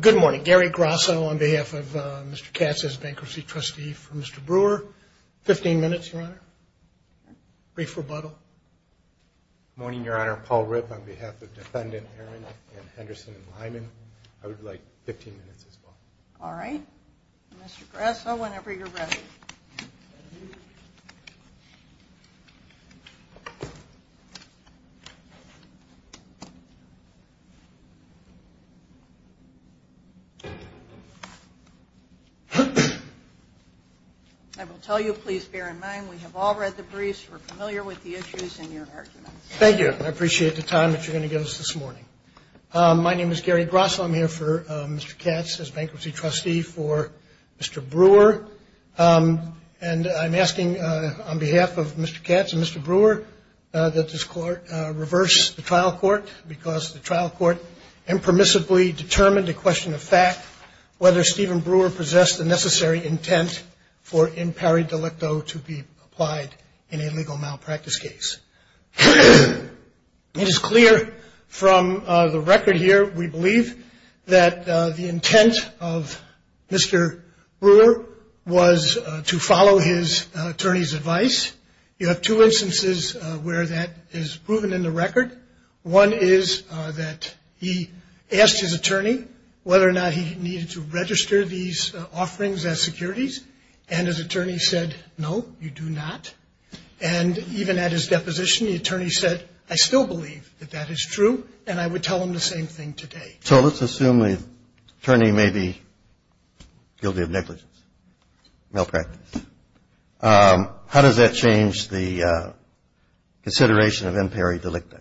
Good morning. Gary Grasso on behalf of Mr. Katz's Bankruptcy Trustee for Mr. Brewer. Fifteen minutes, Your Honor. Brief rebuttal. Good morning, Your Honor. Paul Ripp on behalf of Defendant Arend and Henderson and Lyman. I would like fifteen minutes as well. All right. Mr. Grasso, whenever you're ready. I will tell you, please bear in mind, we have all read the briefs, we're familiar with the issues and your arguments. Thank you. I appreciate the time that you're going to give us this morning. My name is Gary Grasso. I'm here for Mr. Katz's Bankruptcy Trustee for Mr. Brewer. And I'm asking on behalf of Mr. Katz and Mr. Brewer that this court reverse the trial court, because the trial court impermissibly determined the question of fact, whether Stephen Brewer possessed the necessary intent for impari delicto to be applied in a legal malpractice case. It is clear from the record here, we believe, that the intent of Mr. Brewer was to follow his attorney's advice. You have two instances where that is proven in the record. One is that he asked his attorney whether or not he needed to register these offerings as securities, and his attorney said, no, you do not. And even at his deposition, the attorney said, I still believe that that is true, and I would tell him the same thing today. So let's assume the attorney may be guilty of negligence, malpractice. How does that change the consideration of impari delicto?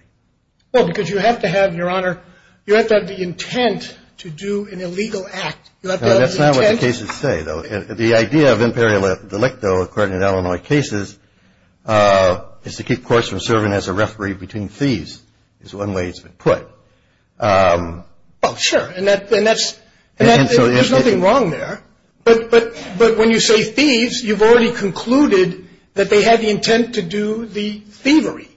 Well, because you have to have, Your Honor, you have to have the intent to do an illegal act. You have to have the intent. That's not what the cases say, though. The idea of impari delicto, according to Illinois cases, is to keep courts from serving as a referee between thieves is one way it's been put. Well, sure. And that's – there's nothing wrong there. But when you say thieves, you've already concluded that they had the intent to do the thievery.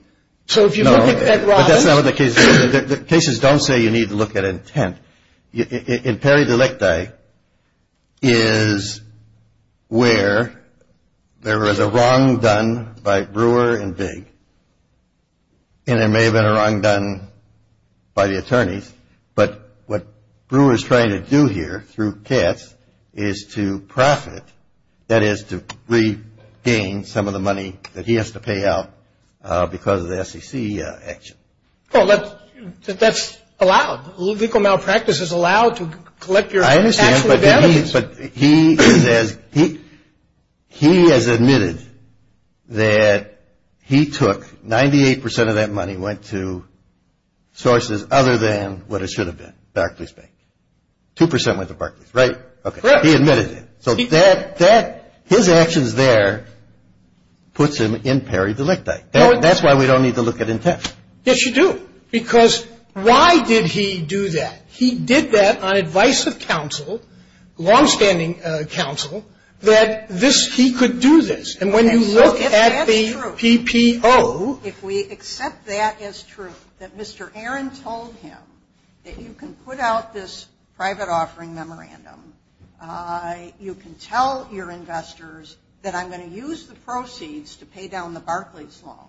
So if you look at Robbins – No, but that's not what the cases say. The cases don't say you need to look at intent. Impari delicti is where there is a wrong done by Brewer and Big. And there may have been a wrong done by the attorneys, but what Brewer is trying to do here through Katz is to profit, that is to regain some of the money that he has to pay out because of the SEC action. Well, that's allowed. Legal malpractice is allowed to collect your actual damages. I understand, but he has admitted that he took 98 percent of that money, went to sources other than what it should have been, Barclays Bank. Two percent went to Barclays, right? Correct. Okay. He admitted it. So his actions there puts him impari delicti. That's why we don't need to look at intent. Yes, you do. Because why did he do that? He did that on advice of counsel, longstanding counsel, that this – he could do this. And when you look at the PPO – If that's true, if we accept that as true, that Mr. Aaron told him that you can put out this private offering memorandum, you can tell your investors that I'm going to use the proceeds to pay down the Barclays loan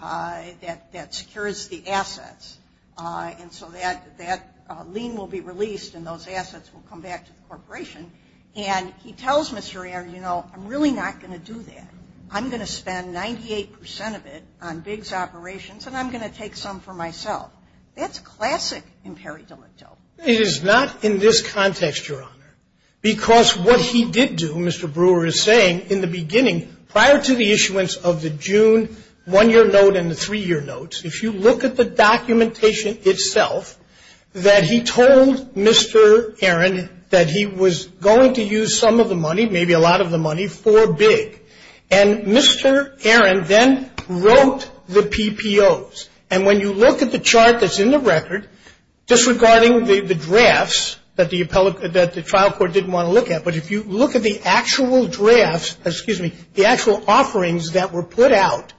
that secures the assets. And so that lien will be released and those assets will come back to the corporation. And he tells Mr. Aaron, you know, I'm really not going to do that. I'm going to spend 98 percent of it on bigs operations, and I'm going to take some for myself. That's classic impari delicto. It is not in this context, Your Honor. Because what he did do, Mr. Brewer is saying, in the beginning, prior to the issuance of the June one-year note and the three-year notes, if you look at the documentation itself, that he told Mr. Aaron that he was going to use some of the money, maybe a lot of the money, for big. And Mr. Aaron then wrote the PPOs. And when you look at the chart that's in the record, just regarding the drafts that the trial court didn't want to look at, but if you look at the actual drafts, excuse me, the actual offerings that were put out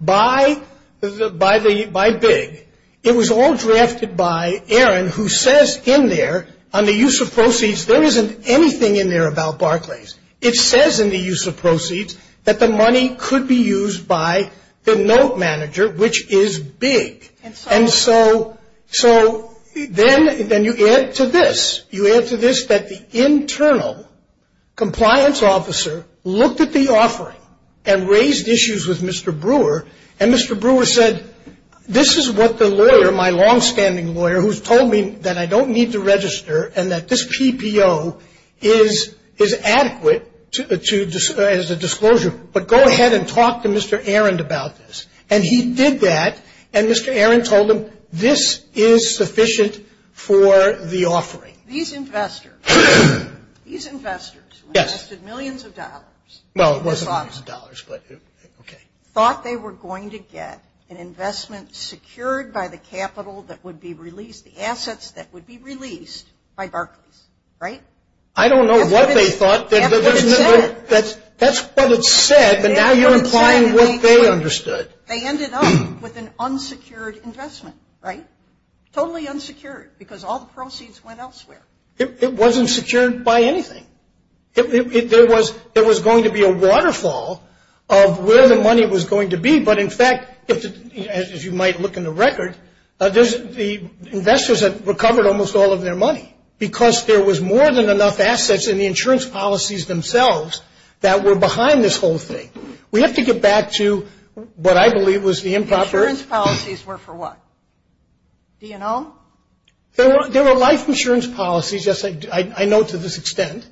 by big, it was all drafted by Aaron, who says in there, on the use of proceeds, there isn't anything in there about Barclays. It says in the use of proceeds that the money could be used by the note manager, which is big. And so then you add to this. You add to this that the internal compliance officer looked at the offering and raised issues with Mr. Brewer, and Mr. Brewer said, this is what the lawyer, my longstanding lawyer, who's told me that I don't need to register and that this PPO is adequate as a disclosure, but go ahead and talk to Mr. Aaron about this. And he did that. And Mr. Aaron told him, this is sufficient for the offering. These investors, these investors who invested millions of dollars. Well, it wasn't millions of dollars, but okay. Thought they were going to get an investment secured by the capital that would be released, the assets that would be released by Barclays, right? I don't know what they thought. That's what it said. That's what it said, but now you're implying what they understood. They ended up with an unsecured investment, right? Totally unsecured because all the proceeds went elsewhere. It wasn't secured by anything. There was going to be a waterfall of where the money was going to be, but in fact, if you might look in the record, the investors had recovered almost all of their money because there was more than enough assets in the insurance policies themselves that were behind this whole thing. We have to get back to what I believe was the improper. The insurance policies were for what? DNL? There were life insurance policies, yes, I know to this extent.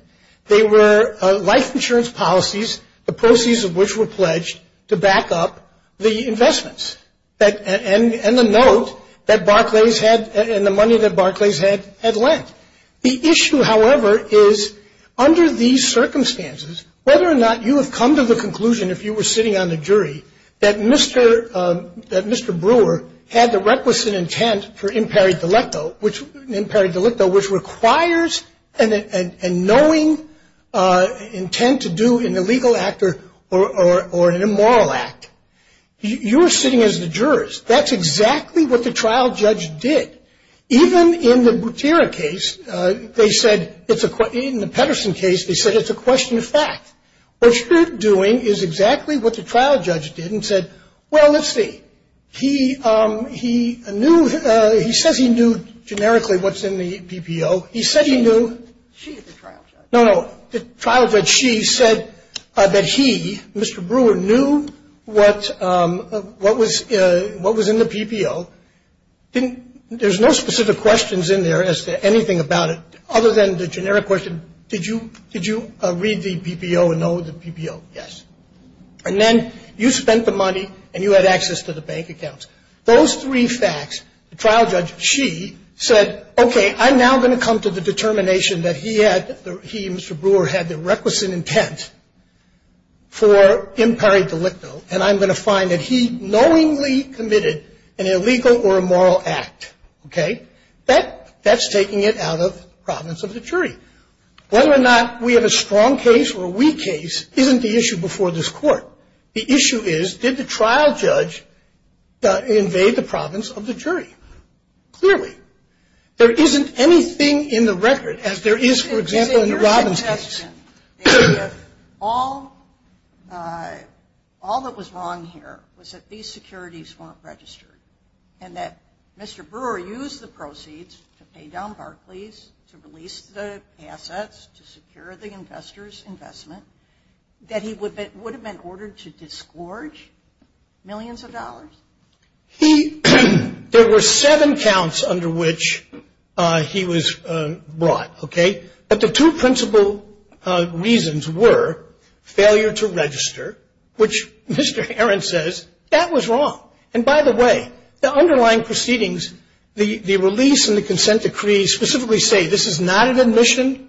They were life insurance policies, the proceeds of which were pledged to back up the investments and the note that Barclays had and the money that Barclays had lent. The issue, however, is under these circumstances, whether or not you have come to the conclusion, if you were sitting on the jury, that Mr. Brewer had the reckless intent for impari delicto, which requires a knowing intent to do an illegal act or an immoral act. You're sitting as the jurist. That's exactly what the trial judge did. Even in the Butera case, they said, in the Pedersen case, they said it's a question of fact. What you're doing is exactly what the trial judge did and said, well, let's see. He knew, he says he knew generically what's in the PPO. He said he knew. She is the trial judge. No, no. The trial judge, she, said that he, Mr. Brewer, knew what was in the PPO. There's no specific questions in there as to anything about it other than the generic question, did you read the PPO and know the PPO? Yes. And then you spent the money and you had access to the bank accounts. Those three facts, the trial judge, she, said, okay, I'm now going to come to the determination that he had, he, Mr. Brewer, had the reckless intent for impari delicto, and I'm going to find that he knowingly committed an illegal or immoral act. Okay? That's taking it out of province of the jury. Whether or not we have a strong case or a weak case isn't the issue before this Court. The issue is, did the trial judge invade the province of the jury? Clearly. There isn't anything in the record, as there is, for example, in the Robbins case. All that was wrong here was that these securities weren't registered and that Mr. Brewer used the proceeds to pay down Barclays, to release the assets, to secure the investors' investment, that he would have been ordered to disgorge millions of dollars? There were seven counts under which he was brought, okay? But the two principal reasons were failure to register, which Mr. Herron says, that was wrong. And by the way, the underlying proceedings, the release and the consent decree, specifically say this is not an admission,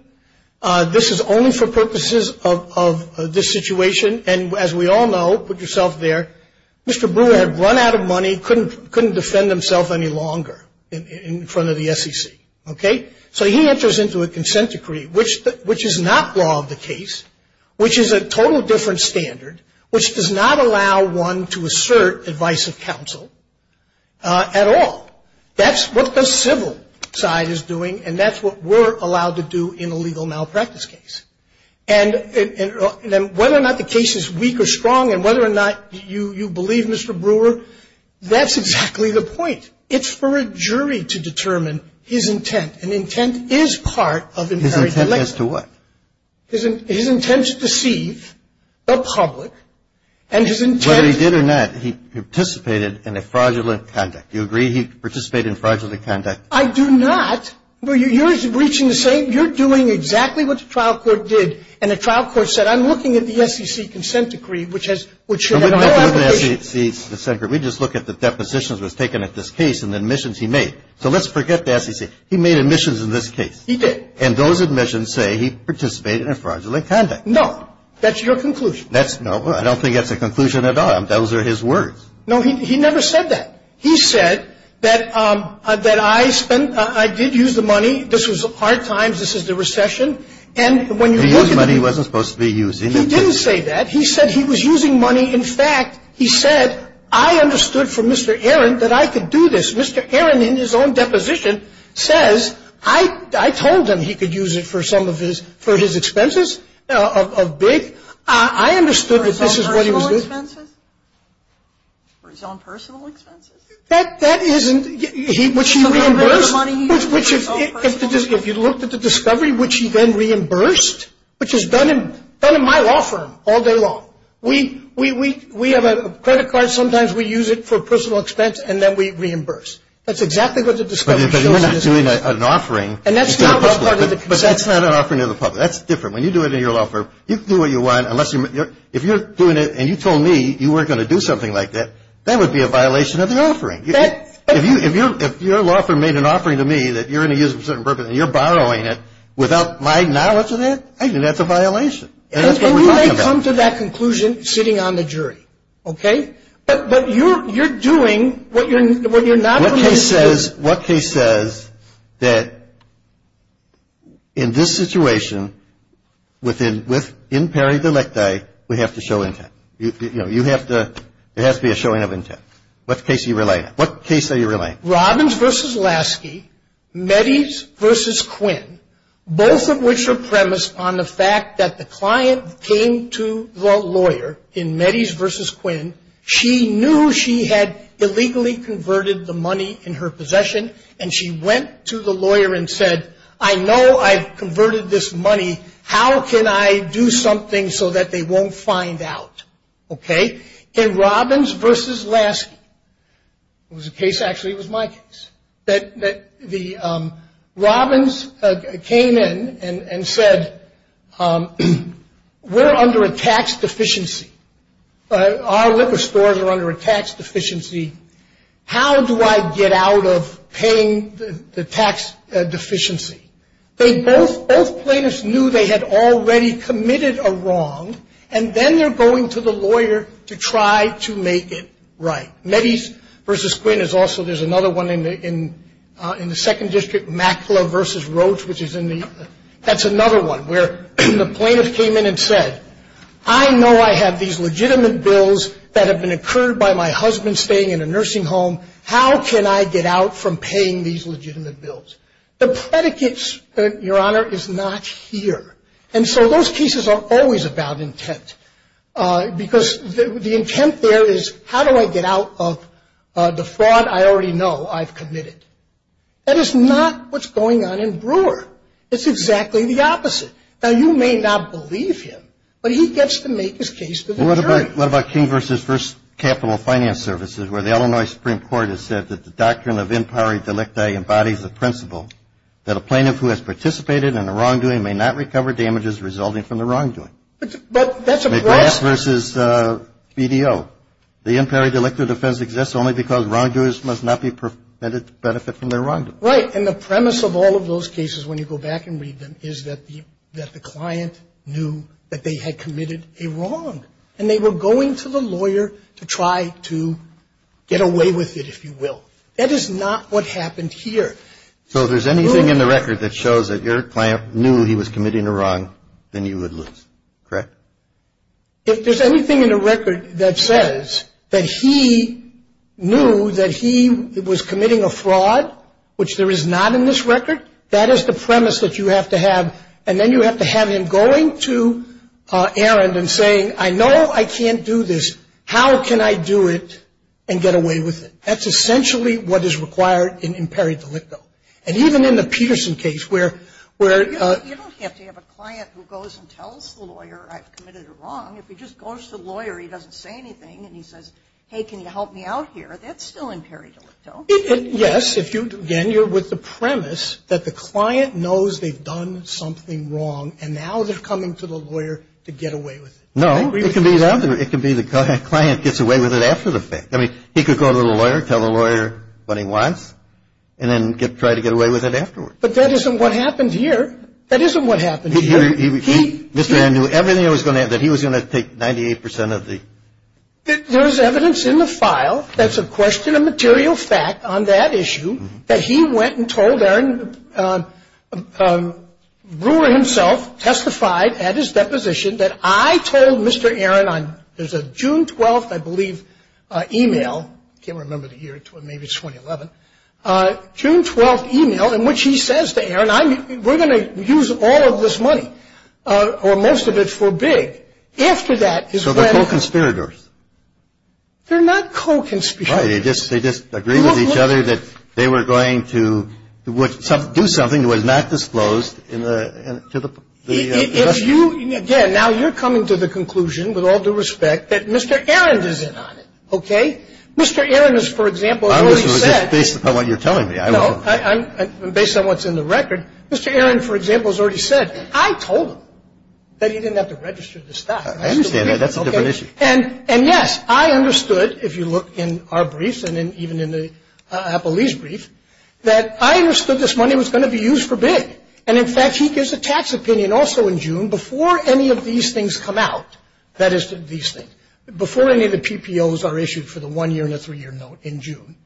this is only for purposes of this situation, and as we all know, put yourself there, Mr. Brewer had run out of money, couldn't defend himself any longer in front of the SEC. Okay? So he enters into a consent decree, which is not law of the case, which is a total different standard, which does not allow one to assert advice of counsel at all. That's what the civil side is doing, and that's what we're allowed to do in a legal malpractice case. And whether or not the case is weak or strong and whether or not you believe Mr. Brewer, that's exactly the point. It's for a jury to determine his intent. And intent is part of imperative deliberation. His intent as to what? His intent to deceive the public, and his intent to do that. Whether he did or not, he participated in a fraudulent conduct. Do you agree he participated in fraudulent conduct? I do not. You're doing exactly what the trial court did, and the trial court said, I'm looking at the SEC consent decree, which should have no application. We just look at the depositions that was taken at this case and the admissions he made. So let's forget the SEC. He made admissions in this case. He did. And those admissions say he participated in a fraudulent conduct. No. That's your conclusion. No, I don't think that's a conclusion at all. Those are his words. No, he never said that. He said that I spent ‑‑ I did use the money. This was hard times. This is the recession. And when you look at the ‑‑ He used money he wasn't supposed to be using. He didn't say that. He said he was using money. In fact, he said, I understood from Mr. Aaron that I could do this. Mr. Aaron, in his own deposition, says, I told him he could use it for some of his ‑‑ for his expenses of big. I understood that this is what he was doing. For his own personal expenses? For his own personal expenses? That isn't ‑‑ which he reimbursed. Some of the money he used for his own personal expenses? If you looked at the discovery, which he then reimbursed, which is done in my law firm all day long. We have a credit card. Sometimes we use it for personal expense and then we reimburse. That's exactly what the discovery shows. But you're not doing an offering. And that's not part of the concession. But that's not an offering to the public. That's different. When you do it in your law firm, you can do what you want unless you're ‑‑ if you're doing it and you told me you weren't going to do something like that, that would be a violation of the offering. If your law firm made an offering to me that you're going to use it for a certain purpose and you're borrowing it without my knowledge of that, I think that's a violation. And that's what we're talking about. And we may come to that conclusion sitting on the jury. Okay? But you're doing what you're not ‑‑ What case says that in this situation, within ‑‑ in pari delecti, we have to show intent? You know, you have to ‑‑ there has to be a showing of intent. What case are you relaying? What case are you relaying? Robbins v. Lasky, Metties v. Quinn, both of which are premised on the fact that the client came to the lawyer in Metties v. Quinn, she knew she had illegally converted the money in her possession, and she went to the lawyer and said, I know I converted this money. How can I do something so that they won't find out? Okay? In Robbins v. Lasky. It was a case, actually, it was my case. That the Robbins came in and said, we're under a tax deficiency. Our liquor stores are under a tax deficiency. How do I get out of paying the tax deficiency? Both plaintiffs knew they had already committed a wrong, and then they're going to the lawyer to try to make it right. Metties v. Quinn is also ‑‑ there's another one in the second district, Mackler v. Roach, which is in the ‑‑ that's another one where the plaintiff came in and said, I know I have these legitimate bills that have been incurred by my husband staying in a nursing home. How can I get out from paying these legitimate bills? The predicate, Your Honor, is not here. And so those cases are always about intent. Because the intent there is, how do I get out of the fraud I already know I've committed? That is not what's going on in Brewer. It's exactly the opposite. Now, you may not believe him, but he gets to make his case to the jury. Well, what about King v. First Capital Finance Services, where the Illinois Supreme Court has said that the doctrine of in pari delicti embodies the principle that a plaintiff who has participated in a wrongdoing may not recover damages resulting from the wrongdoing. But that's a ‑‑ McGrath v. BDO. The in pari delicti offense exists only because wrongdoers must not be permitted to benefit from their wrongdoing. Right. And the premise of all of those cases, when you go back and read them, is that the client knew that they had committed a wrong. And they were going to the lawyer to try to get away with it, if you will. That is not what happened here. So if there's anything in the record that shows that your client knew he was committing a wrong, then you would lose. Correct? If there's anything in the record that says that he knew that he was committing a fraud, which there is not in this record, that is the premise that you have to have. And then you have to have him going to Aaron and saying, I know I can't do this. How can I do it and get away with it? That's essentially what is required in pari delicto. And even in the Peterson case where ‑‑ You don't have to have a client who goes and tells the lawyer I've committed a wrong. If he just goes to the lawyer, he doesn't say anything, and he says, hey, can you help me out here, that's still in pari delicto. Yes. Again, you're with the premise that the client knows they've done something wrong, and now they're coming to the lawyer to get away with it. No. It can be the client gets away with it after the fact. I mean, he could go to the lawyer, tell the lawyer what he wants, and then try to get away with it afterwards. But that isn't what happened here. That isn't what happened here. Mr. Aaron knew everything that he was going to take 98 percent of the ‑‑ There is evidence in the file that's a question of material fact on that issue that he went and told Aaron Brewer himself, testified at his deposition that I told Mr. Aaron on ‑‑ there's a June 12th, I believe, e‑mail. I can't remember the year. Maybe it's 2011. June 12th e‑mail in which he says to Aaron, we're going to use all of this money or most of it for big. After that is when ‑‑ So they're co‑conspirators. They're not co‑conspirators. Right. They just agree with each other that they were going to do something that was not disclosed to the ‑‑ If you, again, now you're coming to the conclusion, with all due respect, that Mr. Aaron is in on it. Okay? Mr. Aaron has, for example, already said ‑‑ I'm just based upon what you're telling me. No. I'm based on what's in the record. Mr. Aaron, for example, has already said, I told him that he didn't have to register this stuff. I understand that. That's a different issue. And, yes, I understood, if you look in our briefs and even in Apple Lee's brief, that I understood this money was going to be used for big. And, in fact, he gives a tax opinion also in June before any of these things come out. That is, these things. Before any of the PPOs are issued for the one‑year and the three‑year note in June.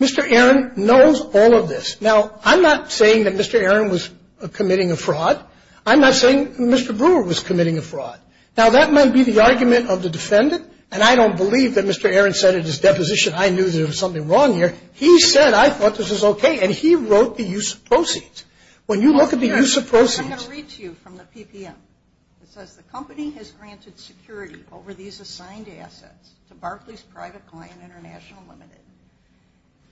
Mr. Aaron knows all of this. Now, I'm not saying that Mr. Aaron was committing a fraud. I'm not saying Mr. Brewer was committing a fraud. Now, that might be the argument of the defendant, and I don't believe that Mr. Aaron said in his deposition, I knew there was something wrong here. He said, I thought this was okay. And he wrote the use of proceeds. When you look at the use of proceeds. I'm going to read to you from the PPM. It says, the company has granted security over these assigned assets to Barclays Private Client International Limited,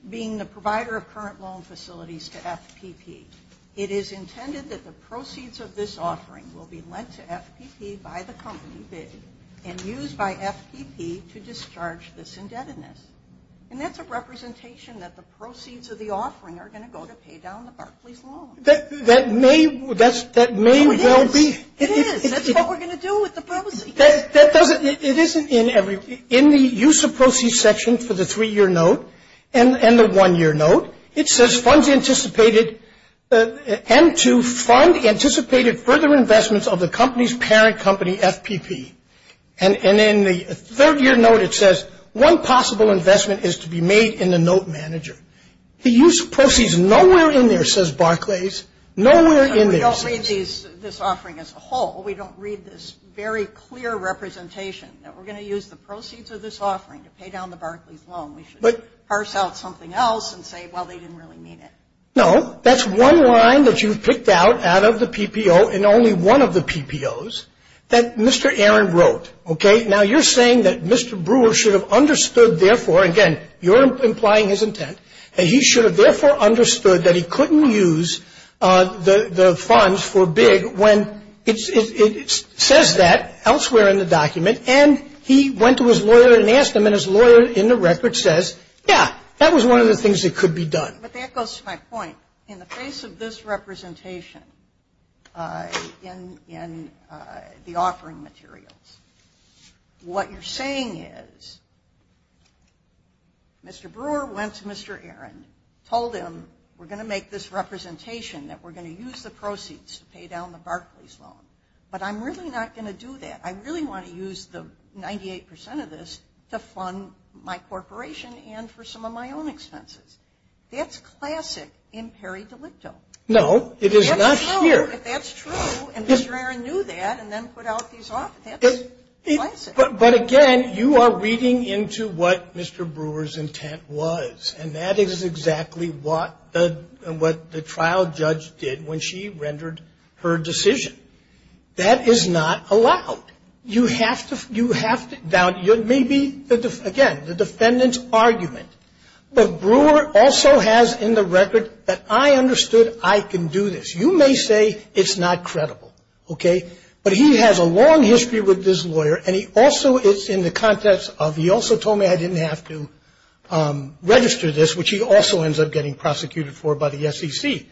being the provider of current loan facilities to FPP. It is intended that the proceeds of this offering will be lent to FPP by the company bid and used by FPP to discharge this indebtedness. And that's a representation that the proceeds of the offering are going to go to pay down the Barclays loan. That may well be. It is. That's what we're going to do with the proceeds. It isn't in the use of proceeds section for the three‑year note and the one‑year note. It says, funds anticipated and to fund anticipated further investments of the company's parent company, FPP. And in the third‑year note, it says, one possible investment is to be made in the note manager. The use of proceeds is nowhere in there, says Barclays. Nowhere in there. We don't read this offering as a whole. We don't read this very clear representation that we're going to use the proceeds of this offering to pay down the Barclays loan. We should parse out something else and say, well, they didn't really mean it. No. That's one line that you've picked out out of the PPO and only one of the PPOs that Mr. Aaron wrote. Okay? Now, you're saying that Mr. Brewer should have understood, therefore, again, you're implying his intent, that he should have therefore understood that he couldn't use the funds for big when it says that elsewhere in the document. And he went to his lawyer and asked him, and his lawyer in the record says, yeah, that was one of the things that could be done. But that goes to my point. In the face of this representation in the offering materials, what you're saying is Mr. Brewer went to Mr. Aaron, told him, we're going to make this representation that we're going to use the proceeds to pay down the Barclays loan. But I'm really not going to do that. I really want to use the 98% of this to fund my corporation and for some of my own expenses. That's classic in peri delicto. No, it is not here. That's true. If that's true and Mr. Aaron knew that and then put out these offers, that's classic. But, again, you are reading into what Mr. Brewer's intent was. And that is exactly what the trial judge did when she rendered her decision. That is not allowed. You have to, maybe, again, the defendant's argument. But Brewer also has in the record that I understood I can do this. You may say it's not credible. Okay? But he has a long history with this lawyer, and he also is in the context of he also told me I didn't have to register this, which he also ends up getting prosecuted for by the SEC.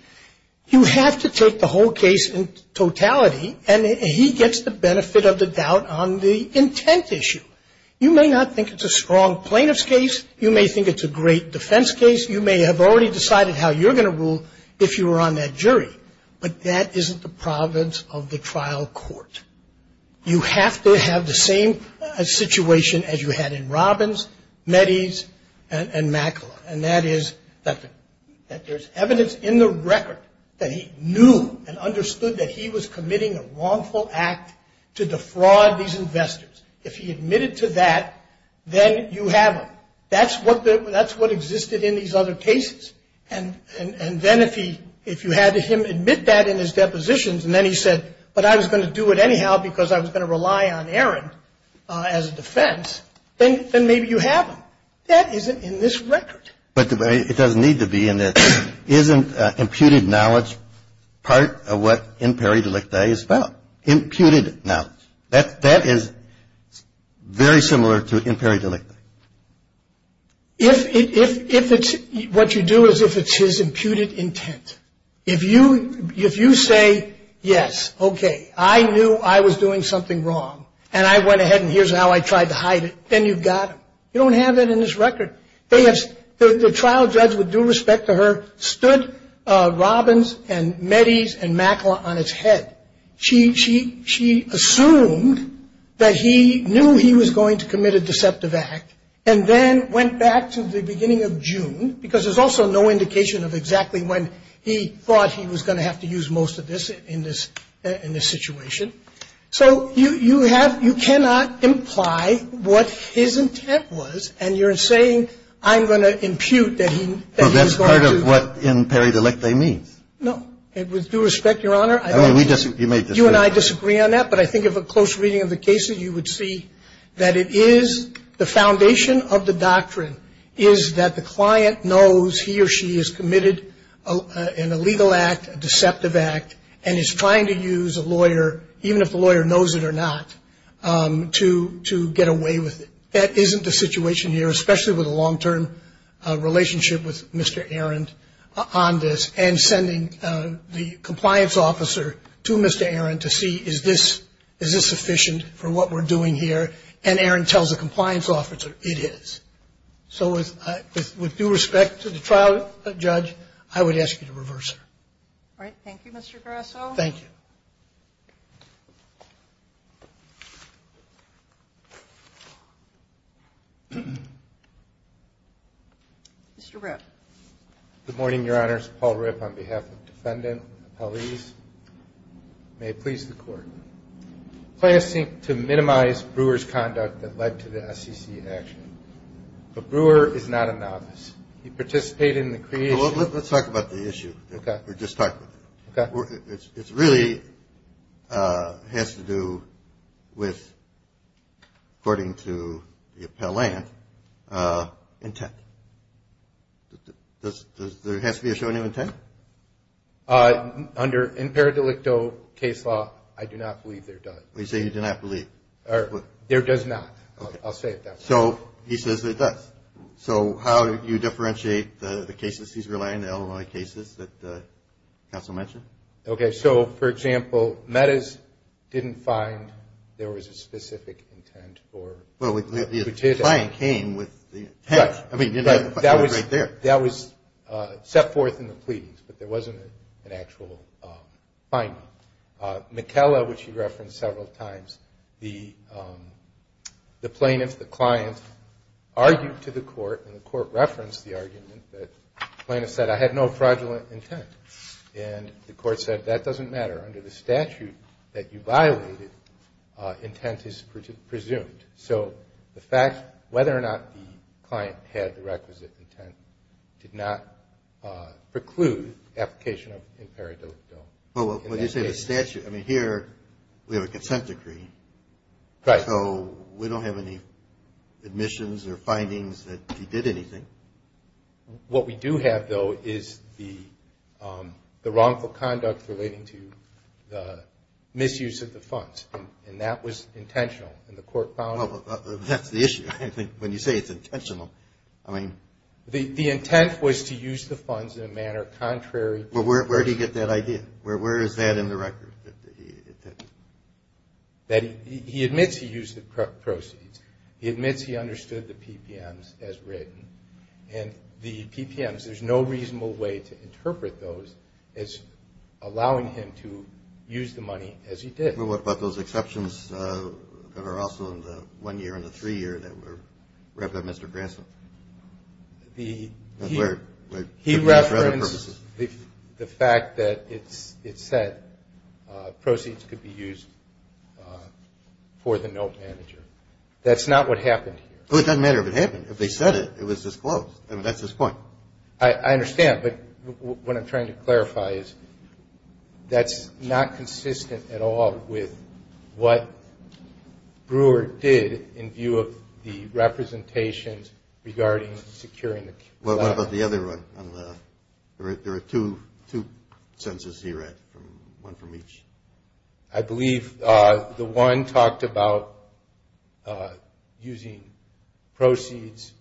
You have to take the whole case in totality, and he gets the benefit of the doubt on the intent issue. You may not think it's a strong plaintiff's case. You may think it's a great defense case. You may have already decided how you're going to rule if you were on that jury. But that isn't the province of the trial court. You have to have the same situation as you had in Robbins, Metis, and Makala. And that is that there's evidence in the record that he knew and understood that he was committing a wrongful act to defraud these investors. If he admitted to that, then you have him. That's what existed in these other cases. And then if you had him admit that in his depositions, and then he said, but I was going to do it anyhow because I was going to rely on Aaron as a defense, then maybe you have him. Now, that isn't in this record. But it doesn't need to be in this. Isn't imputed knowledge part of what imperi delictae is about? Imputed knowledge. That is very similar to imperi delictae. If it's what you do is if it's his imputed intent. If you say, yes, okay, I knew I was doing something wrong, and I went ahead and here's how I tried to hide it, then you've got him. You don't have that in this record. The trial judge, with due respect to her, stood Robbins and Metis and Mackler on its head. She assumed that he knew he was going to commit a deceptive act and then went back to the beginning of June because there's also no indication of exactly when he thought he was going to have to use most of this in this situation. So you have you cannot imply what his intent was, and you're saying I'm going to impute that he's going to. Well, that's part of what imperi delictae means. No. With due respect, Your Honor, I don't. You may disagree. You and I disagree on that. But I think if a close reading of the cases, you would see that it is the foundation of the doctrine is that the client knows he or she has committed an illegal act, a deceptive act, and is trying to use a lawyer, even if the lawyer knows it or not, to get away with it. That isn't the situation here, especially with a long-term relationship with Mr. Arend on this and sending the compliance officer to Mr. Arend to see is this sufficient for what we're doing here. And Arend tells the compliance officer it is. So with due respect to the trial judge, I would ask you to reverse it. All right. Thank you, Mr. Grasso. Thank you. Mr. Ripp. Good morning, Your Honors. Paul Ripp on behalf of the defendant, appellees. May it please the Court. Claims to minimize Brewer's conduct that led to the SEC action. But Brewer is not a novice. He participated in the creation. Let's talk about the issue we just talked about. Okay. It really has to do with, according to the appellant, intent. Does there have to be a show of intent? Under in per delicto case law, I do not believe there does. You say you do not believe. There does not. I'll say it that way. So he says there does. So how do you differentiate the cases he's relying on, the Illinois cases that counsel mentioned? Okay. So, for example, Meadows didn't find there was a specific intent for. Well, the client came with the intent. Right. I mean, the client was right there. That was set forth in the pleadings, but there wasn't an actual finding. McKella, which you referenced several times, the plaintiff, the client, argued to the court, and the court referenced the argument that the plaintiff said, I had no fraudulent intent. And the court said, that doesn't matter. Under the statute that you violated, intent is presumed. So the fact whether or not the client had the requisite intent did not preclude application of an in per delicto bill. Well, when you say the statute, I mean, here we have a consent decree. Right. So we don't have any admissions or findings that he did anything. What we do have, though, is the wrongful conduct relating to the misuse of the funds, and that was intentional. And the court found it. Well, that's the issue. I think when you say it's intentional, I mean. The intent was to use the funds in a manner contrary. Well, where did he get that idea? Where is that in the record? He admits he used the proceeds. He admits he understood the PPMs as written. And the PPMs, there's no reasonable way to interpret those as allowing him to use the money as he did. Well, what about those exceptions that are also in the one year and the three year that were read by Mr. Grasso? He referenced the fact that it said proceeds could be used for the note manager. That's not what happened here. Well, it doesn't matter if it happened. If they said it, it was disclosed. I mean, that's his point. I understand. But what I'm trying to clarify is that's not consistent at all with what Brewer did in view of the representations regarding securing. What about the other one? There are two sentences he read, one from each. I believe the one talked about using proceeds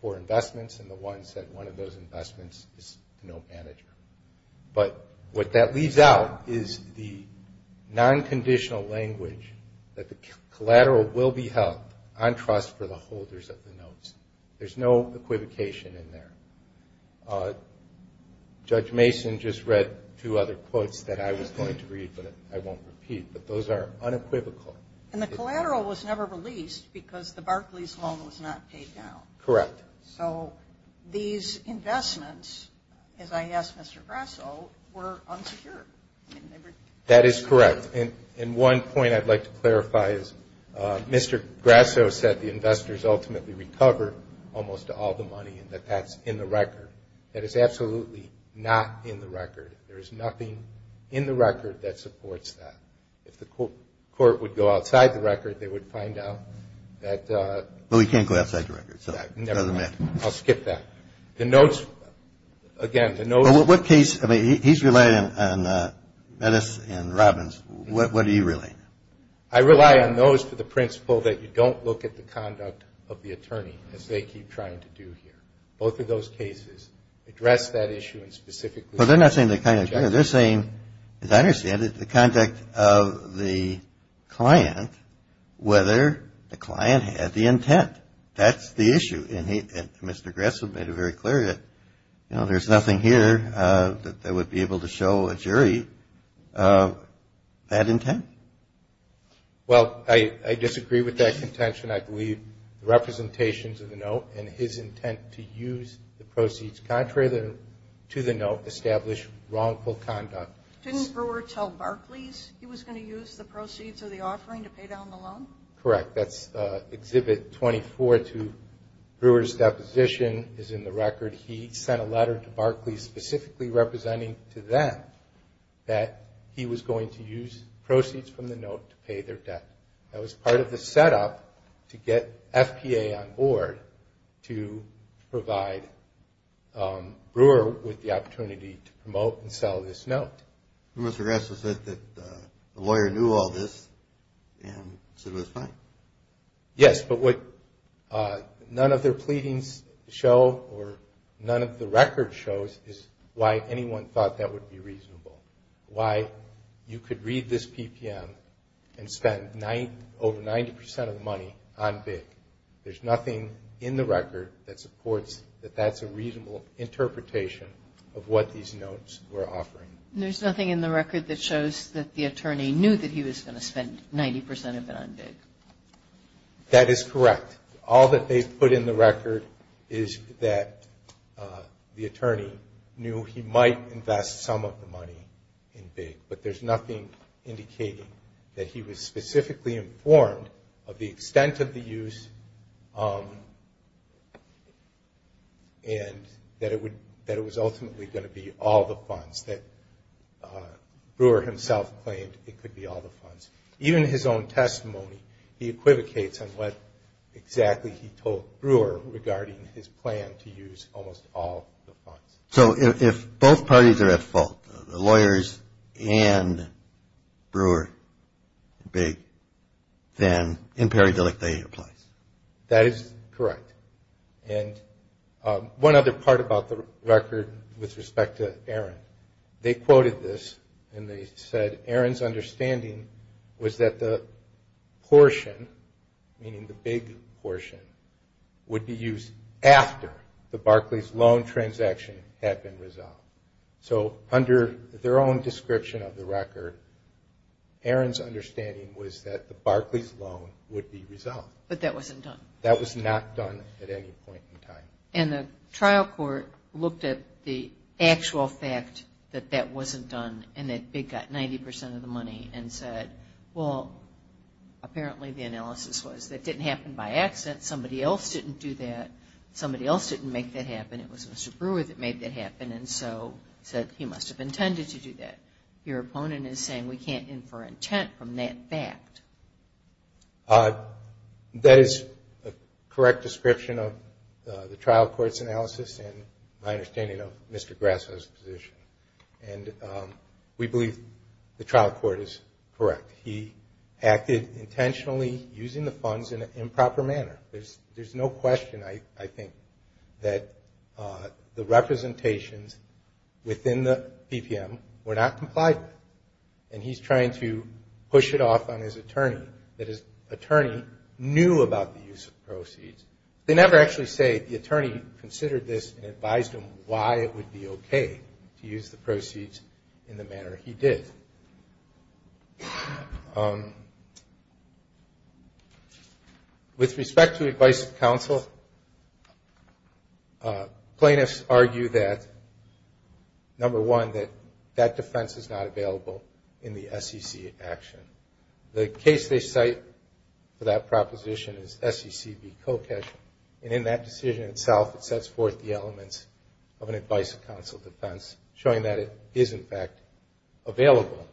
for investments, and the one said one of those investments is the note manager. But what that leaves out is the non-conditional language that the collateral will be held on trust for the holders of the notes. There's no equivocation in there. Judge Mason just read two other quotes that I was going to read, but I won't repeat. But those are unequivocal. And the collateral was never released because the Barclays loan was not paid down. Correct. So these investments, as I asked Mr. Grasso, were unsecured. That is correct. And one point I'd like to clarify is Mr. Grasso said the investors ultimately recover almost all the money and that that's in the record. That is absolutely not in the record. There is nothing in the record that supports that. If the court would go outside the record, they would find out that. Well, we can't go outside the record, so it doesn't matter. I'll skip that. The notes, again, the notes. Well, what case? I mean, he's relying on Metis and Robbins. What do you rely on? I rely on those for the principle that you don't look at the conduct of the attorney, as they keep trying to do here. Both of those cases address that issue specifically. But they're not saying the kind of conduct. They're saying, as I understand it, the conduct of the client, whether the client had the intent. That's the issue. And Mr. Grasso made it very clear that there's nothing here that would be able to show a jury that intent. Well, I disagree with that contention. I believe the representations of the note and his intent to use the proceeds contrary to the note establish wrongful conduct. Didn't Brewer tell Barclays he was going to use the proceeds of the offering to pay down the loan? Correct. That's Exhibit 24 to Brewer's deposition is in the record. He sent a letter to Barclays specifically representing to them that he was going to use proceeds from the note to pay their debt. That was part of the setup to get FPA on board to provide Brewer with the opportunity to promote and sell this note. Mr. Grasso said that the lawyer knew all this and said it was fine. Yes, but what none of their pleadings show or none of the record shows is why anyone thought that would be reasonable, why you could read this PPM and spend over 90 percent of the money on big. There's nothing in the record that supports that that's a reasonable interpretation of what these notes were offering. There's nothing in the record that shows that the attorney knew that he was going to spend 90 percent of it on big. That is correct. All that they put in the record is that the attorney knew he might invest some of the money in big, but there's nothing indicating that he was specifically informed of the extent of the use and that it was ultimately going to be all the funds, that Brewer himself claimed it could be all the funds. Even in his own testimony, he equivocates on what exactly he told Brewer regarding his plan to use almost all the funds. So if both parties are at fault, the lawyers and Brewer, big, then in pareidolic they apply. That is correct. And one other part about the record with respect to Aaron, they quoted this and they said Aaron's understanding was that the portion, meaning the big portion, would be used after the Barclays loan transaction had been resolved. So under their own description of the record, Aaron's understanding was that the Barclays loan would be resolved. But that wasn't done. That was not done at any point in time. And the trial court looked at the actual fact that that wasn't done and that big got 90 percent of the money and said, well, apparently the analysis was it didn't happen by accident. Somebody else didn't do that. Somebody else didn't make that happen. It was Mr. Brewer that made that happen and so said he must have intended to do that. Your opponent is saying we can't infer intent from that fact. That is a correct description of the trial court's analysis and my understanding of Mr. Grasso's position. And we believe the trial court is correct. He acted intentionally using the funds in an improper manner. There's no question, I think, that the representations within the PPM were not compliant. And he's trying to push it off on his attorney that his attorney knew about the use of proceeds. They never actually say the attorney considered this and advised him why it would be okay to use the proceeds in the manner he did. With respect to advice of counsel, plaintiffs argue that, number one, that that defense is not available in the SEC action. The case they cite for that proposition is SEC v. Kokesh, and in that decision itself it sets forth the elements of an advice of counsel defense, showing that it is, in fact, available.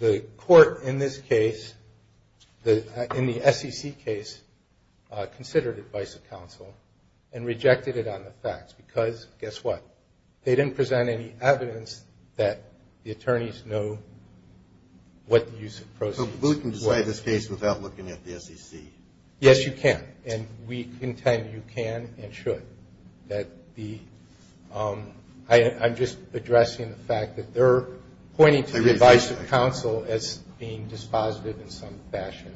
The court in this case, in the SEC case, considered advice of counsel and rejected it on the facts because, guess what? They didn't present any evidence that the attorneys know what the use of proceeds was. So we can decide this case without looking at the SEC? Yes, you can. And we contend you can and should. I'm just addressing the fact that they're pointing to advice of counsel as being dispositive in some fashion.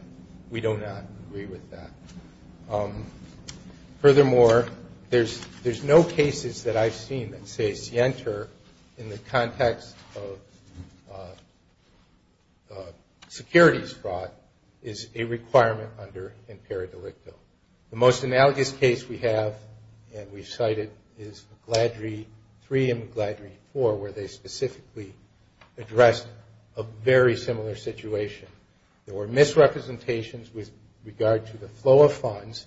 We do not agree with that. Furthermore, there's no cases that I've seen that say SIENTA in the context of securities fraud is a requirement under impera delicto. The most analogous case we have, and we've cited, is McLeodry 3 and McLeodry 4, where they specifically addressed a very similar situation. There were misrepresentations with regard to the flow of funds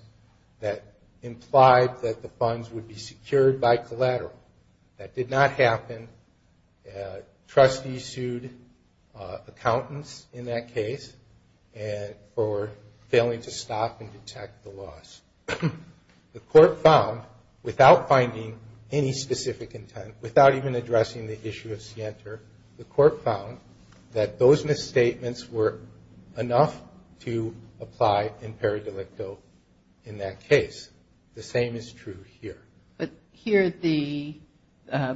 that implied that the funds would be secured by collateral. That did not happen. Trustees sued accountants in that case for failing to stop and detect the loss. The court found, without finding any specific intent, without even addressing the issue of SIENTA, the court found that those misstatements were enough to apply impera delicto in that case. The same is true here. But here the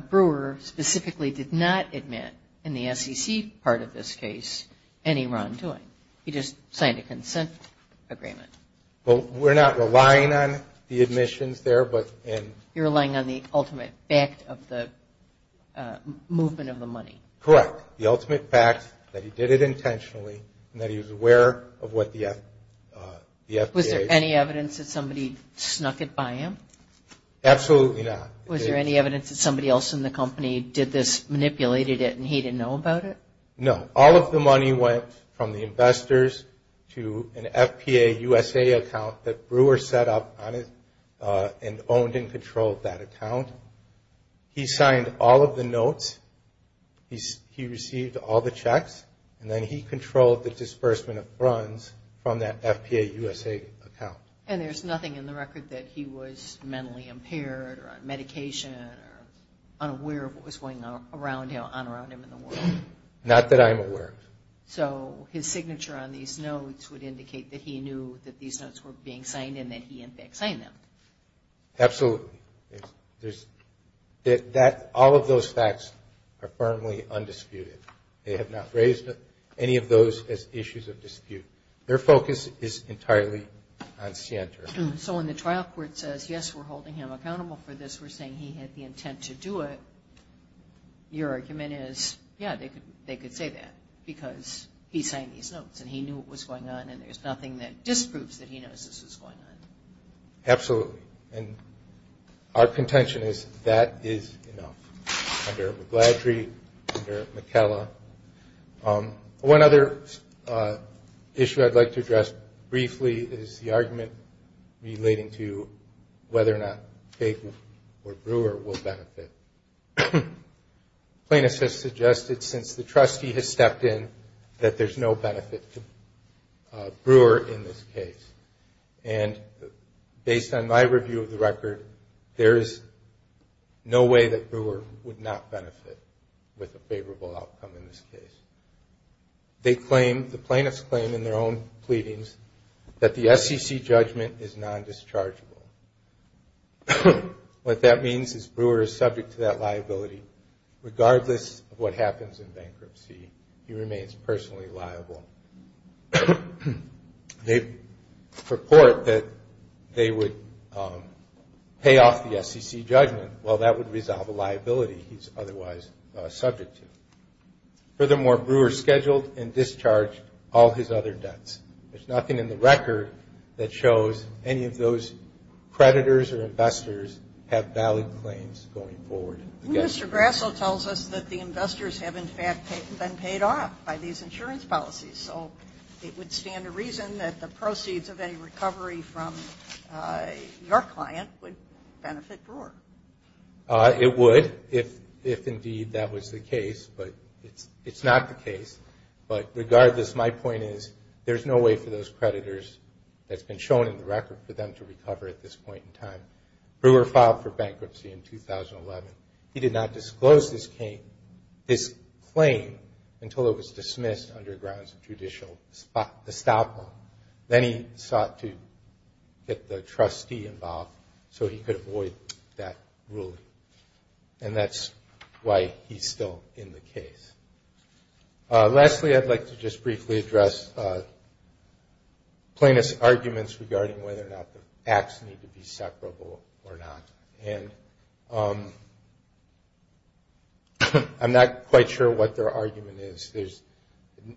brewer specifically did not admit in the SEC part of this case any wrongdoing. He just signed a consent agreement. Well, we're not relying on the admissions there, but in – You're relying on the ultimate fact of the movement of the money. Correct. The ultimate fact that he did it intentionally and that he was aware of what the FPA – Was there any evidence that somebody snuck it by him? Absolutely not. Was there any evidence that somebody else in the company did this, manipulated it, and he didn't know about it? No. All of the money went from the investors to an FPA USA account that Brewer set up on it and owned and controlled that account. He signed all of the notes. He received all the checks. And then he controlled the disbursement of bruns from that FPA USA account. And there's nothing in the record that he was mentally impaired or on medication or unaware of what was going on around him in the world? Not that I'm aware of. So his signature on these notes would indicate that he knew that these notes were being signed and that he, in fact, signed them. Absolutely. All of those facts are firmly undisputed. They have not raised any of those as issues of dispute. Their focus is entirely on scienter. So when the trial court says, yes, we're holding him accountable for this, we're saying he had the intent to do it, your argument is, yeah, they could say that because he signed these notes and he knew what was going on and there's nothing that disproves that he knows this was going on. Absolutely. And our contention is that is enough under McGladrey, under McKellar. One other issue I'd like to address briefly is the argument relating to whether or not Kegel or Brewer will benefit. Plaintiffs have suggested, since the trustee has stepped in, that there's no benefit to Brewer in this case. And based on my review of the record, there is no way that Brewer would not benefit with a favorable outcome in this case. They claim, the plaintiffs claim in their own pleadings, that the SEC judgment is non-dischargeable. What that means is Brewer is subject to that liability. Regardless of what happens in bankruptcy, he remains personally liable. They purport that they would pay off the SEC judgment. Well, that would resolve a liability he's otherwise subject to. Furthermore, Brewer scheduled and discharged all his other debts. There's nothing in the record that shows any of those creditors or investors have valid claims going forward. Mr. Grasso tells us that the investors have, in fact, been paid off by these insurance policies, so it would stand to reason that the proceeds of any recovery from your client would benefit Brewer. It would, if indeed that was the case, but it's not the case. But regardless, my point is there's no way for those creditors, that's been shown in the record, for them to recover at this point in time. Brewer filed for bankruptcy in 2011. He did not disclose his claim until it was dismissed under grounds of judicial estoppel. Then he sought to get the trustee involved so he could avoid that ruling. And that's why he's still in the case. Lastly, I'd like to just briefly address plaintiff's arguments regarding whether or not the acts need to be separable or not. And I'm not quite sure what their argument is. There's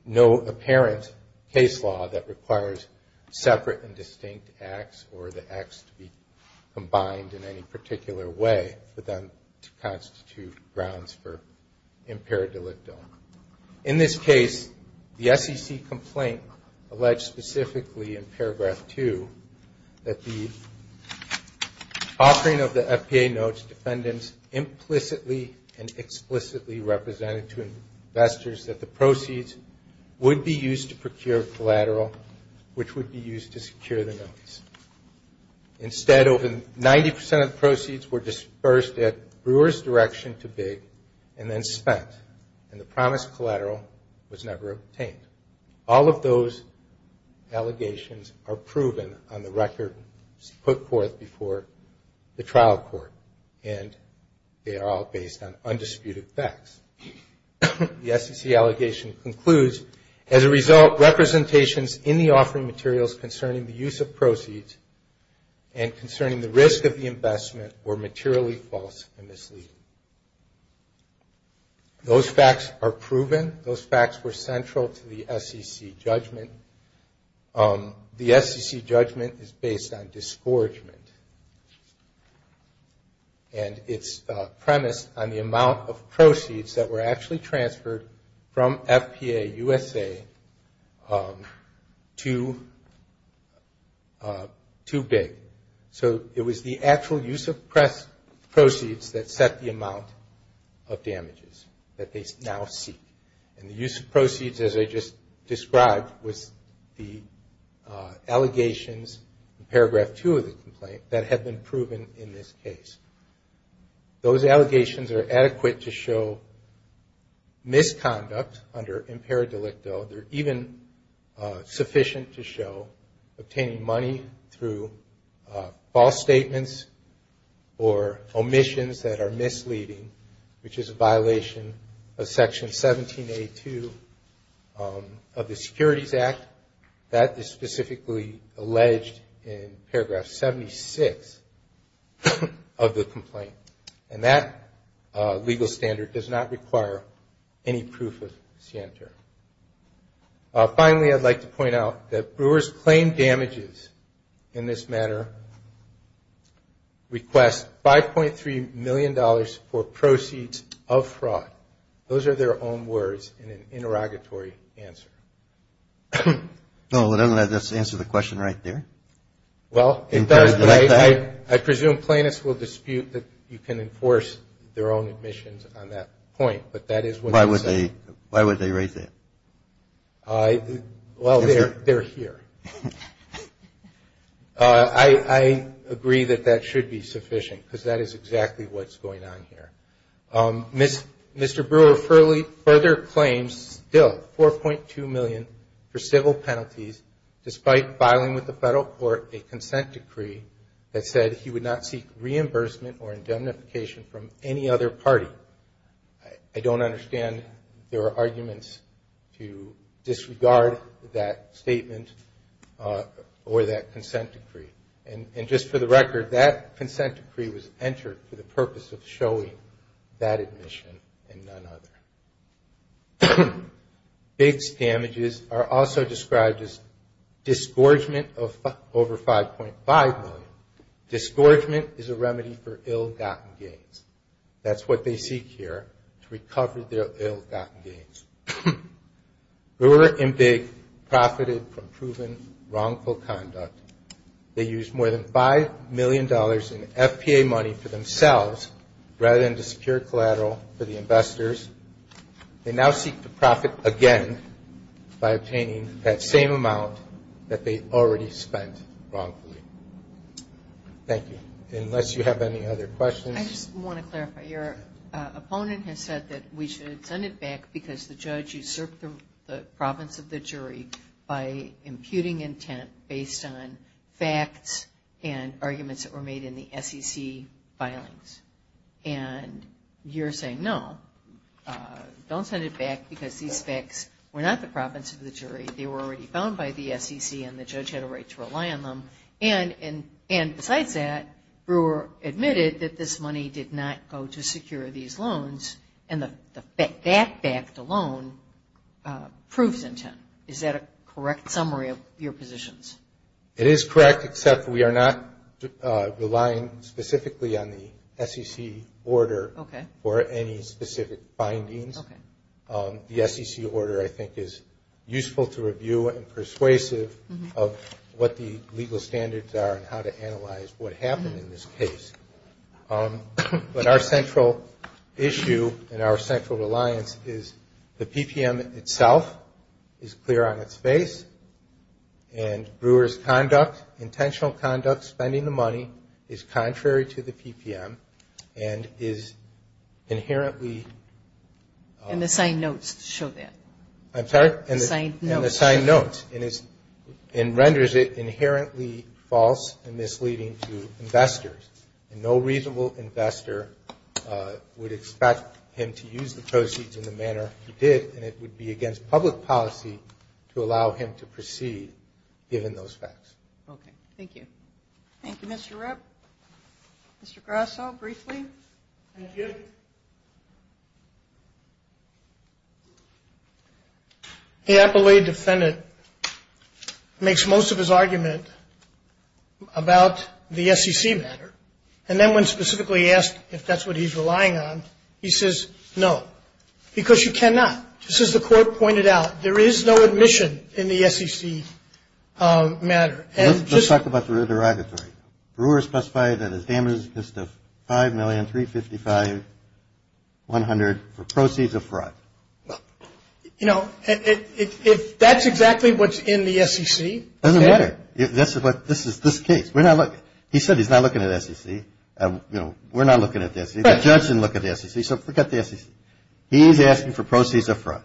no apparent case law that requires separate and distinct acts or the acts to be combined in any particular way for them to constitute grounds for impaired delicto. In this case, the SEC complaint alleged specifically in paragraph 2 that the offering of the FPA notes to defendants implicitly and explicitly represented to investors that the proceeds would be used to procure collateral, which would be used to secure the notes. Instead, over 90% of the proceeds were dispersed at Brewer's direction to Big and then spent. And the promised collateral was never obtained. All of those allegations are proven on the record put forth before the trial court. And they are all based on undisputed facts. The SEC allegation concludes, as a result representations in the offering materials concerning the use of proceeds and concerning the risk of the investment were materially false and misleading. Those facts are proven. Those facts were central to the SEC judgment. The SEC judgment is based on disgorgement. And it's premised on the amount of proceeds that were actually transferred from FPA USA to Big. So it was the actual use of proceeds that set the amount of damages that they now seek. And the use of proceeds, as I just described, was the allegations in paragraph two of the complaint that had been proven in this case. Those allegations are adequate to show misconduct under impera delicto. They're even sufficient to show obtaining money through false statements or omissions that are misleading, which is a violation of section 1782 of the Securities Act. That is specifically alleged in paragraph 76 of the complaint. And that legal standard does not require any proof of scienter. Finally, I'd like to point out that Brewer's claim damages in this matter request $5.3 million for proceeds of fraud. Those are their own words in an interrogatory answer. No, let's answer the question right there. Well, I presume plaintiffs will dispute that you can enforce their own admissions on that point, but that is what I'm saying. Why would they write that? Well, they're here. I agree that that should be sufficient, because that is exactly what's going on here. Mr. Brewer further claims, still, $4.2 million for civil penalties, despite filing with the federal court a consent decree that said he would not seek reimbursement or indemnification from any other party. I don't understand there are arguments to disregard that statement or that consent decree. And just for the record, that consent decree was entered for the purpose of showing that admission and none other. Big damages are also described as disgorgement of over $5.5 million. Now, disgorgement is a remedy for ill-gotten gains. That's what they seek here, to recover their ill-gotten gains. Brewer and Big profited from proven wrongful conduct. They used more than $5 million in FPA money for themselves rather than to secure collateral for the investors. They now seek to profit again by obtaining that same amount that they already spent wrongfully. Thank you. Unless you have any other questions. I just want to clarify. Your opponent has said that we should send it back because the judge usurped the province of the jury by imputing intent based on facts and arguments that were made in the SEC filings. And you're saying no, don't send it back because these facts were not the province of the jury. They were already found by the SEC, and the judge had a right to rely on them. And besides that, Brewer admitted that this money did not go to secure these loans, and that fact alone proves intent. Is that a correct summary of your positions? It is correct, except we are not relying specifically on the SEC order for any specific findings. The SEC order, I think, is useful to review and persuasive of what the legal standards are and how to analyze what happened in this case. But our central issue and our central reliance is the PPM itself is clear on its face, and Brewer's conduct, intentional conduct, spending the money is contrary to the PPM and is inherently. And the signed notes show that. I'm sorry? The signed notes. And the signed notes. And renders it inherently false and misleading to investors. And no reasonable investor would expect him to use the proceeds in the manner he did, and it would be against public policy to allow him to proceed given those facts. Okay. Thank you. Thank you, Mr. Rupp. Mr. Grasso, briefly. Thank you. The appellee defendant makes most of his argument about the SEC matter, and then when specifically asked if that's what he's relying on, he says no. Because you cannot. Just as the court pointed out, there is no admission in the SEC matter. Let's talk about the derogatory. Brewer specified that his damages consist of $5,355,100 for proceeds of fraud. You know, if that's exactly what's in the SEC. It doesn't matter. This is this case. We're not looking. He said he's not looking at the SEC. You know, we're not looking at the SEC. The judge didn't look at the SEC, so forget the SEC. He's asking for proceeds of fraud.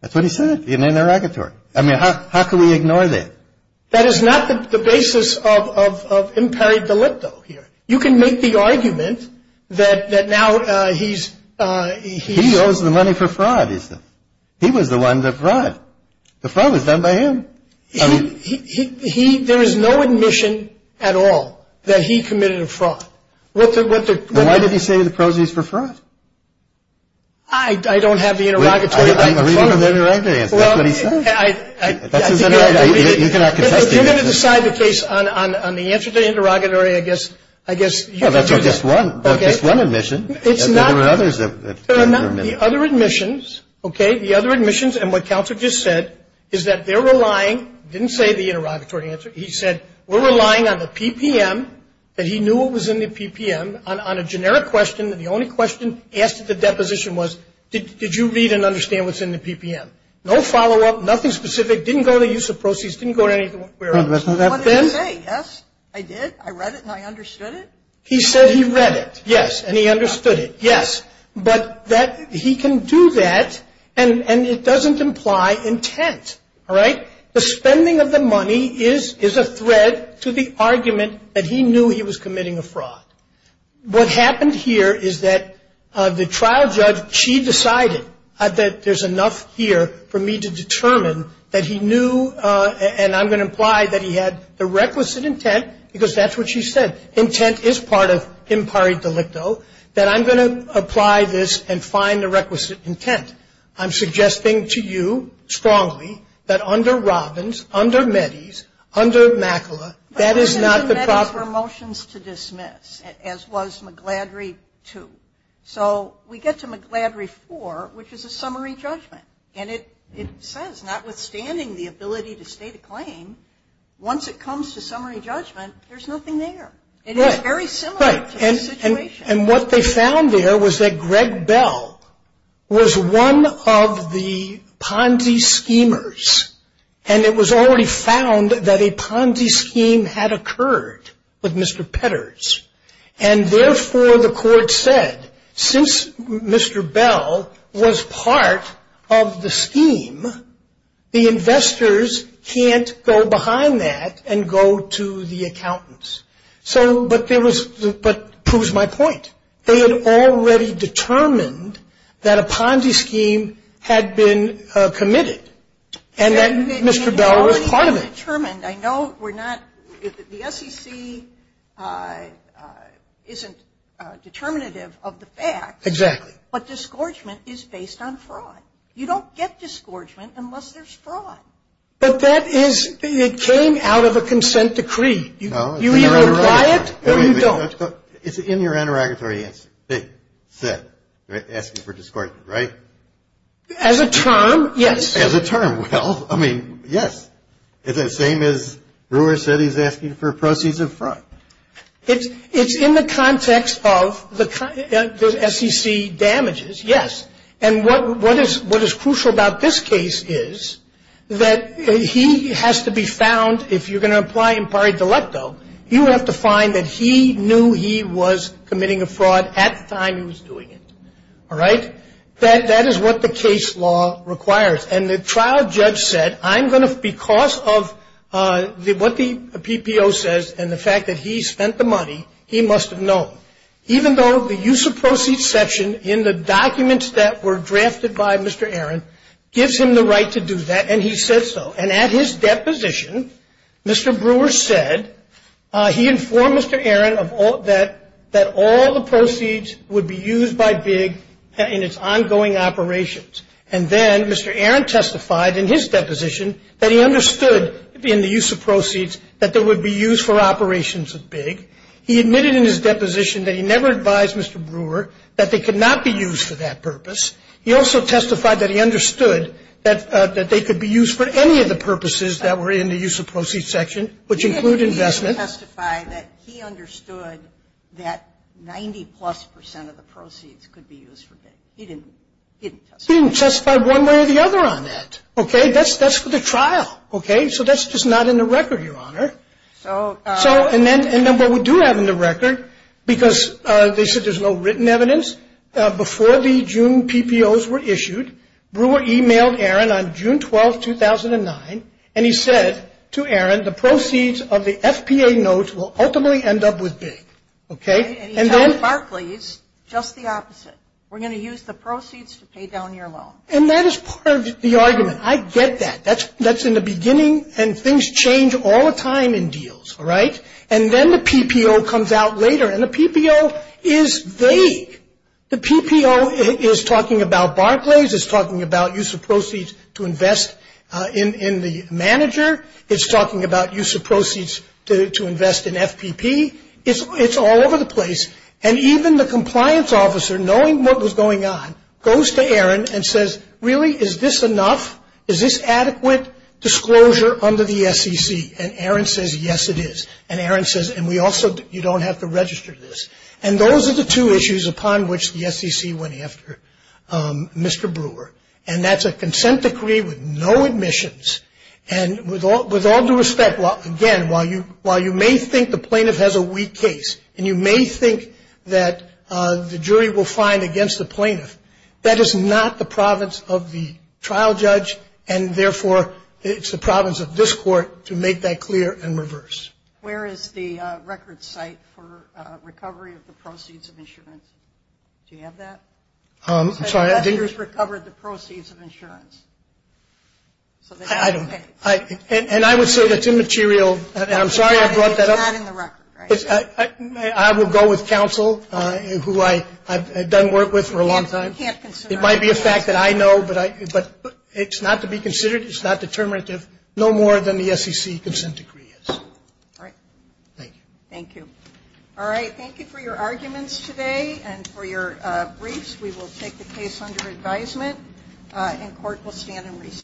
That's what he said in the derogatory. I mean, how can we ignore that? That is not the basis of imperi delicto here. You can make the argument that now he's ‑‑ He owes the money for fraud, he said. He was the one that fraud. The fraud was done by him. There is no admission at all that he committed a fraud. Well, why did he say the proceeds were fraud? I don't have the interrogatory. I'm reading from the interrogatory answer. That's what he said. That's his interrogatory. You cannot contest the admission. If you're going to decide the case on the answer to the interrogatory, I guess ‑‑ Well, that's just one. Okay. That's just one admission. There are others that can be remitted. There are not the other admissions, okay, the other admissions. And what Counselor just said is that they're relying, didn't say the interrogatory answer. He said, we're relying on the PPM, that he knew what was in the PPM, on a generic question. And the only question asked at the deposition was, did you read and understand what's in the PPM? No follow‑up, nothing specific, didn't go to use of proceeds, didn't go to anything else. What did he say? Yes, I did. I read it and I understood it. He said he read it, yes, and he understood it, yes. The spending of the money is a thread to the argument that he knew he was committing a fraud. What happened here is that the trial judge, she decided that there's enough here for me to determine that he knew, and I'm going to imply that he had the requisite intent, because that's what she said. Intent is part of impari delicto, that I'm going to apply this and find the requisite intent. I'm suggesting to you strongly that under Robbins, under Mettees, under McAuliffe, that is not the proper ‑‑ But there's no Mettees for motions to dismiss, as was McGladrey 2. So we get to McGladrey 4, which is a summary judgment, and it says, notwithstanding the ability to state a claim, once it comes to summary judgment, there's nothing there. It is very similar to the situation. And what they found there was that Greg Bell was one of the Ponzi schemers, and it was already found that a Ponzi scheme had occurred with Mr. Petters. And therefore, the court said, since Mr. Bell was part of the scheme, the investors can't go behind that and go to the accountants. So, but there was ‑‑ but proves my point. They had already determined that a Ponzi scheme had been committed, and that Mr. Bell was part of it. I know we're not ‑‑ the SEC isn't determinative of the facts. Exactly. But disgorgement is based on fraud. You don't get disgorgement unless there's fraud. But that is ‑‑ it came out of a consent decree. You either apply it or you don't. It's in your interrogatory answer. They said, asking for disgorgement, right? As a term, yes. As a term. Well, I mean, yes. It's the same as Brewer said he's asking for proceeds of fraud. It's in the context of the SEC damages, yes. And what is crucial about this case is that he has to be found, if you're going to apply impari delecto, you have to find that he knew he was committing a fraud at the time he was doing it. All right? That is what the case law requires. And the trial judge said, I'm going to, because of what the PPO says and the fact that he spent the money, he must have known. Even though the use of proceeds section in the documents that were drafted by Mr. Aaron gives him the right to do that, and he said so. And at his deposition, Mr. Brewer said, he informed Mr. Aaron that all the proceeds would be used by BIG in its ongoing operations. And then Mr. Aaron testified in his deposition that he understood, in the use of proceeds, that they would be used for operations at BIG. He admitted in his deposition that he never advised Mr. Brewer that they could not be used for that purpose. He also testified that he understood that they could be used for any of the purposes that were in the use of proceeds section, which include investment. He didn't testify that he understood that 90-plus percent of the proceeds could be used for BIG. He didn't testify. He didn't testify one way or the other on that. Okay? That's for the trial. Okay? So that's just not in the record, Your Honor. And then what we do have in the record, because they said there's no written evidence, before the June PPOs were issued, Brewer emailed Aaron on June 12, 2009, and he said to Aaron, the proceeds of the FPA notes will ultimately end up with BIG. Okay? And he said, Barclays, just the opposite. We're going to use the proceeds to pay down your loan. And that is part of the argument. I get that. That's in the beginning, and things change all the time in deals. All right? And then the PPO comes out later, and the PPO is vague. The PPO is talking about Barclays. It's talking about use of proceeds to invest in the manager. It's talking about use of proceeds to invest in FPP. It's all over the place. And even the compliance officer, knowing what was going on, goes to Aaron and says, really, is this enough? Is this adequate disclosure under the SEC? And Aaron says, yes, it is. And Aaron says, and we also, you don't have to register this. And those are the two issues upon which the SEC went after Mr. Brewer. And that's a consent decree with no admissions. And with all due respect, again, while you may think the plaintiff has a weak case, and you may think that the jury will find against the plaintiff, that is not the province of the trial judge, and therefore it's the province of this Court to make that clear and reverse. Where is the record site for recovery of the proceeds of insurance? Do you have that? I'm sorry, I didn't get it. So the investors recovered the proceeds of insurance. I don't know. And I would say that's immaterial, and I'm sorry I brought that up. It's not in the record, right? I will go with counsel, who I've done work with for a long time. It might be a fact that I know, but it's not to be considered. It's not determinative, no more than the SEC consent decree is. All right. Thank you. Thank you. All right, thank you for your arguments today and for your briefs. We will take the case under advisement, and court will stand in recess.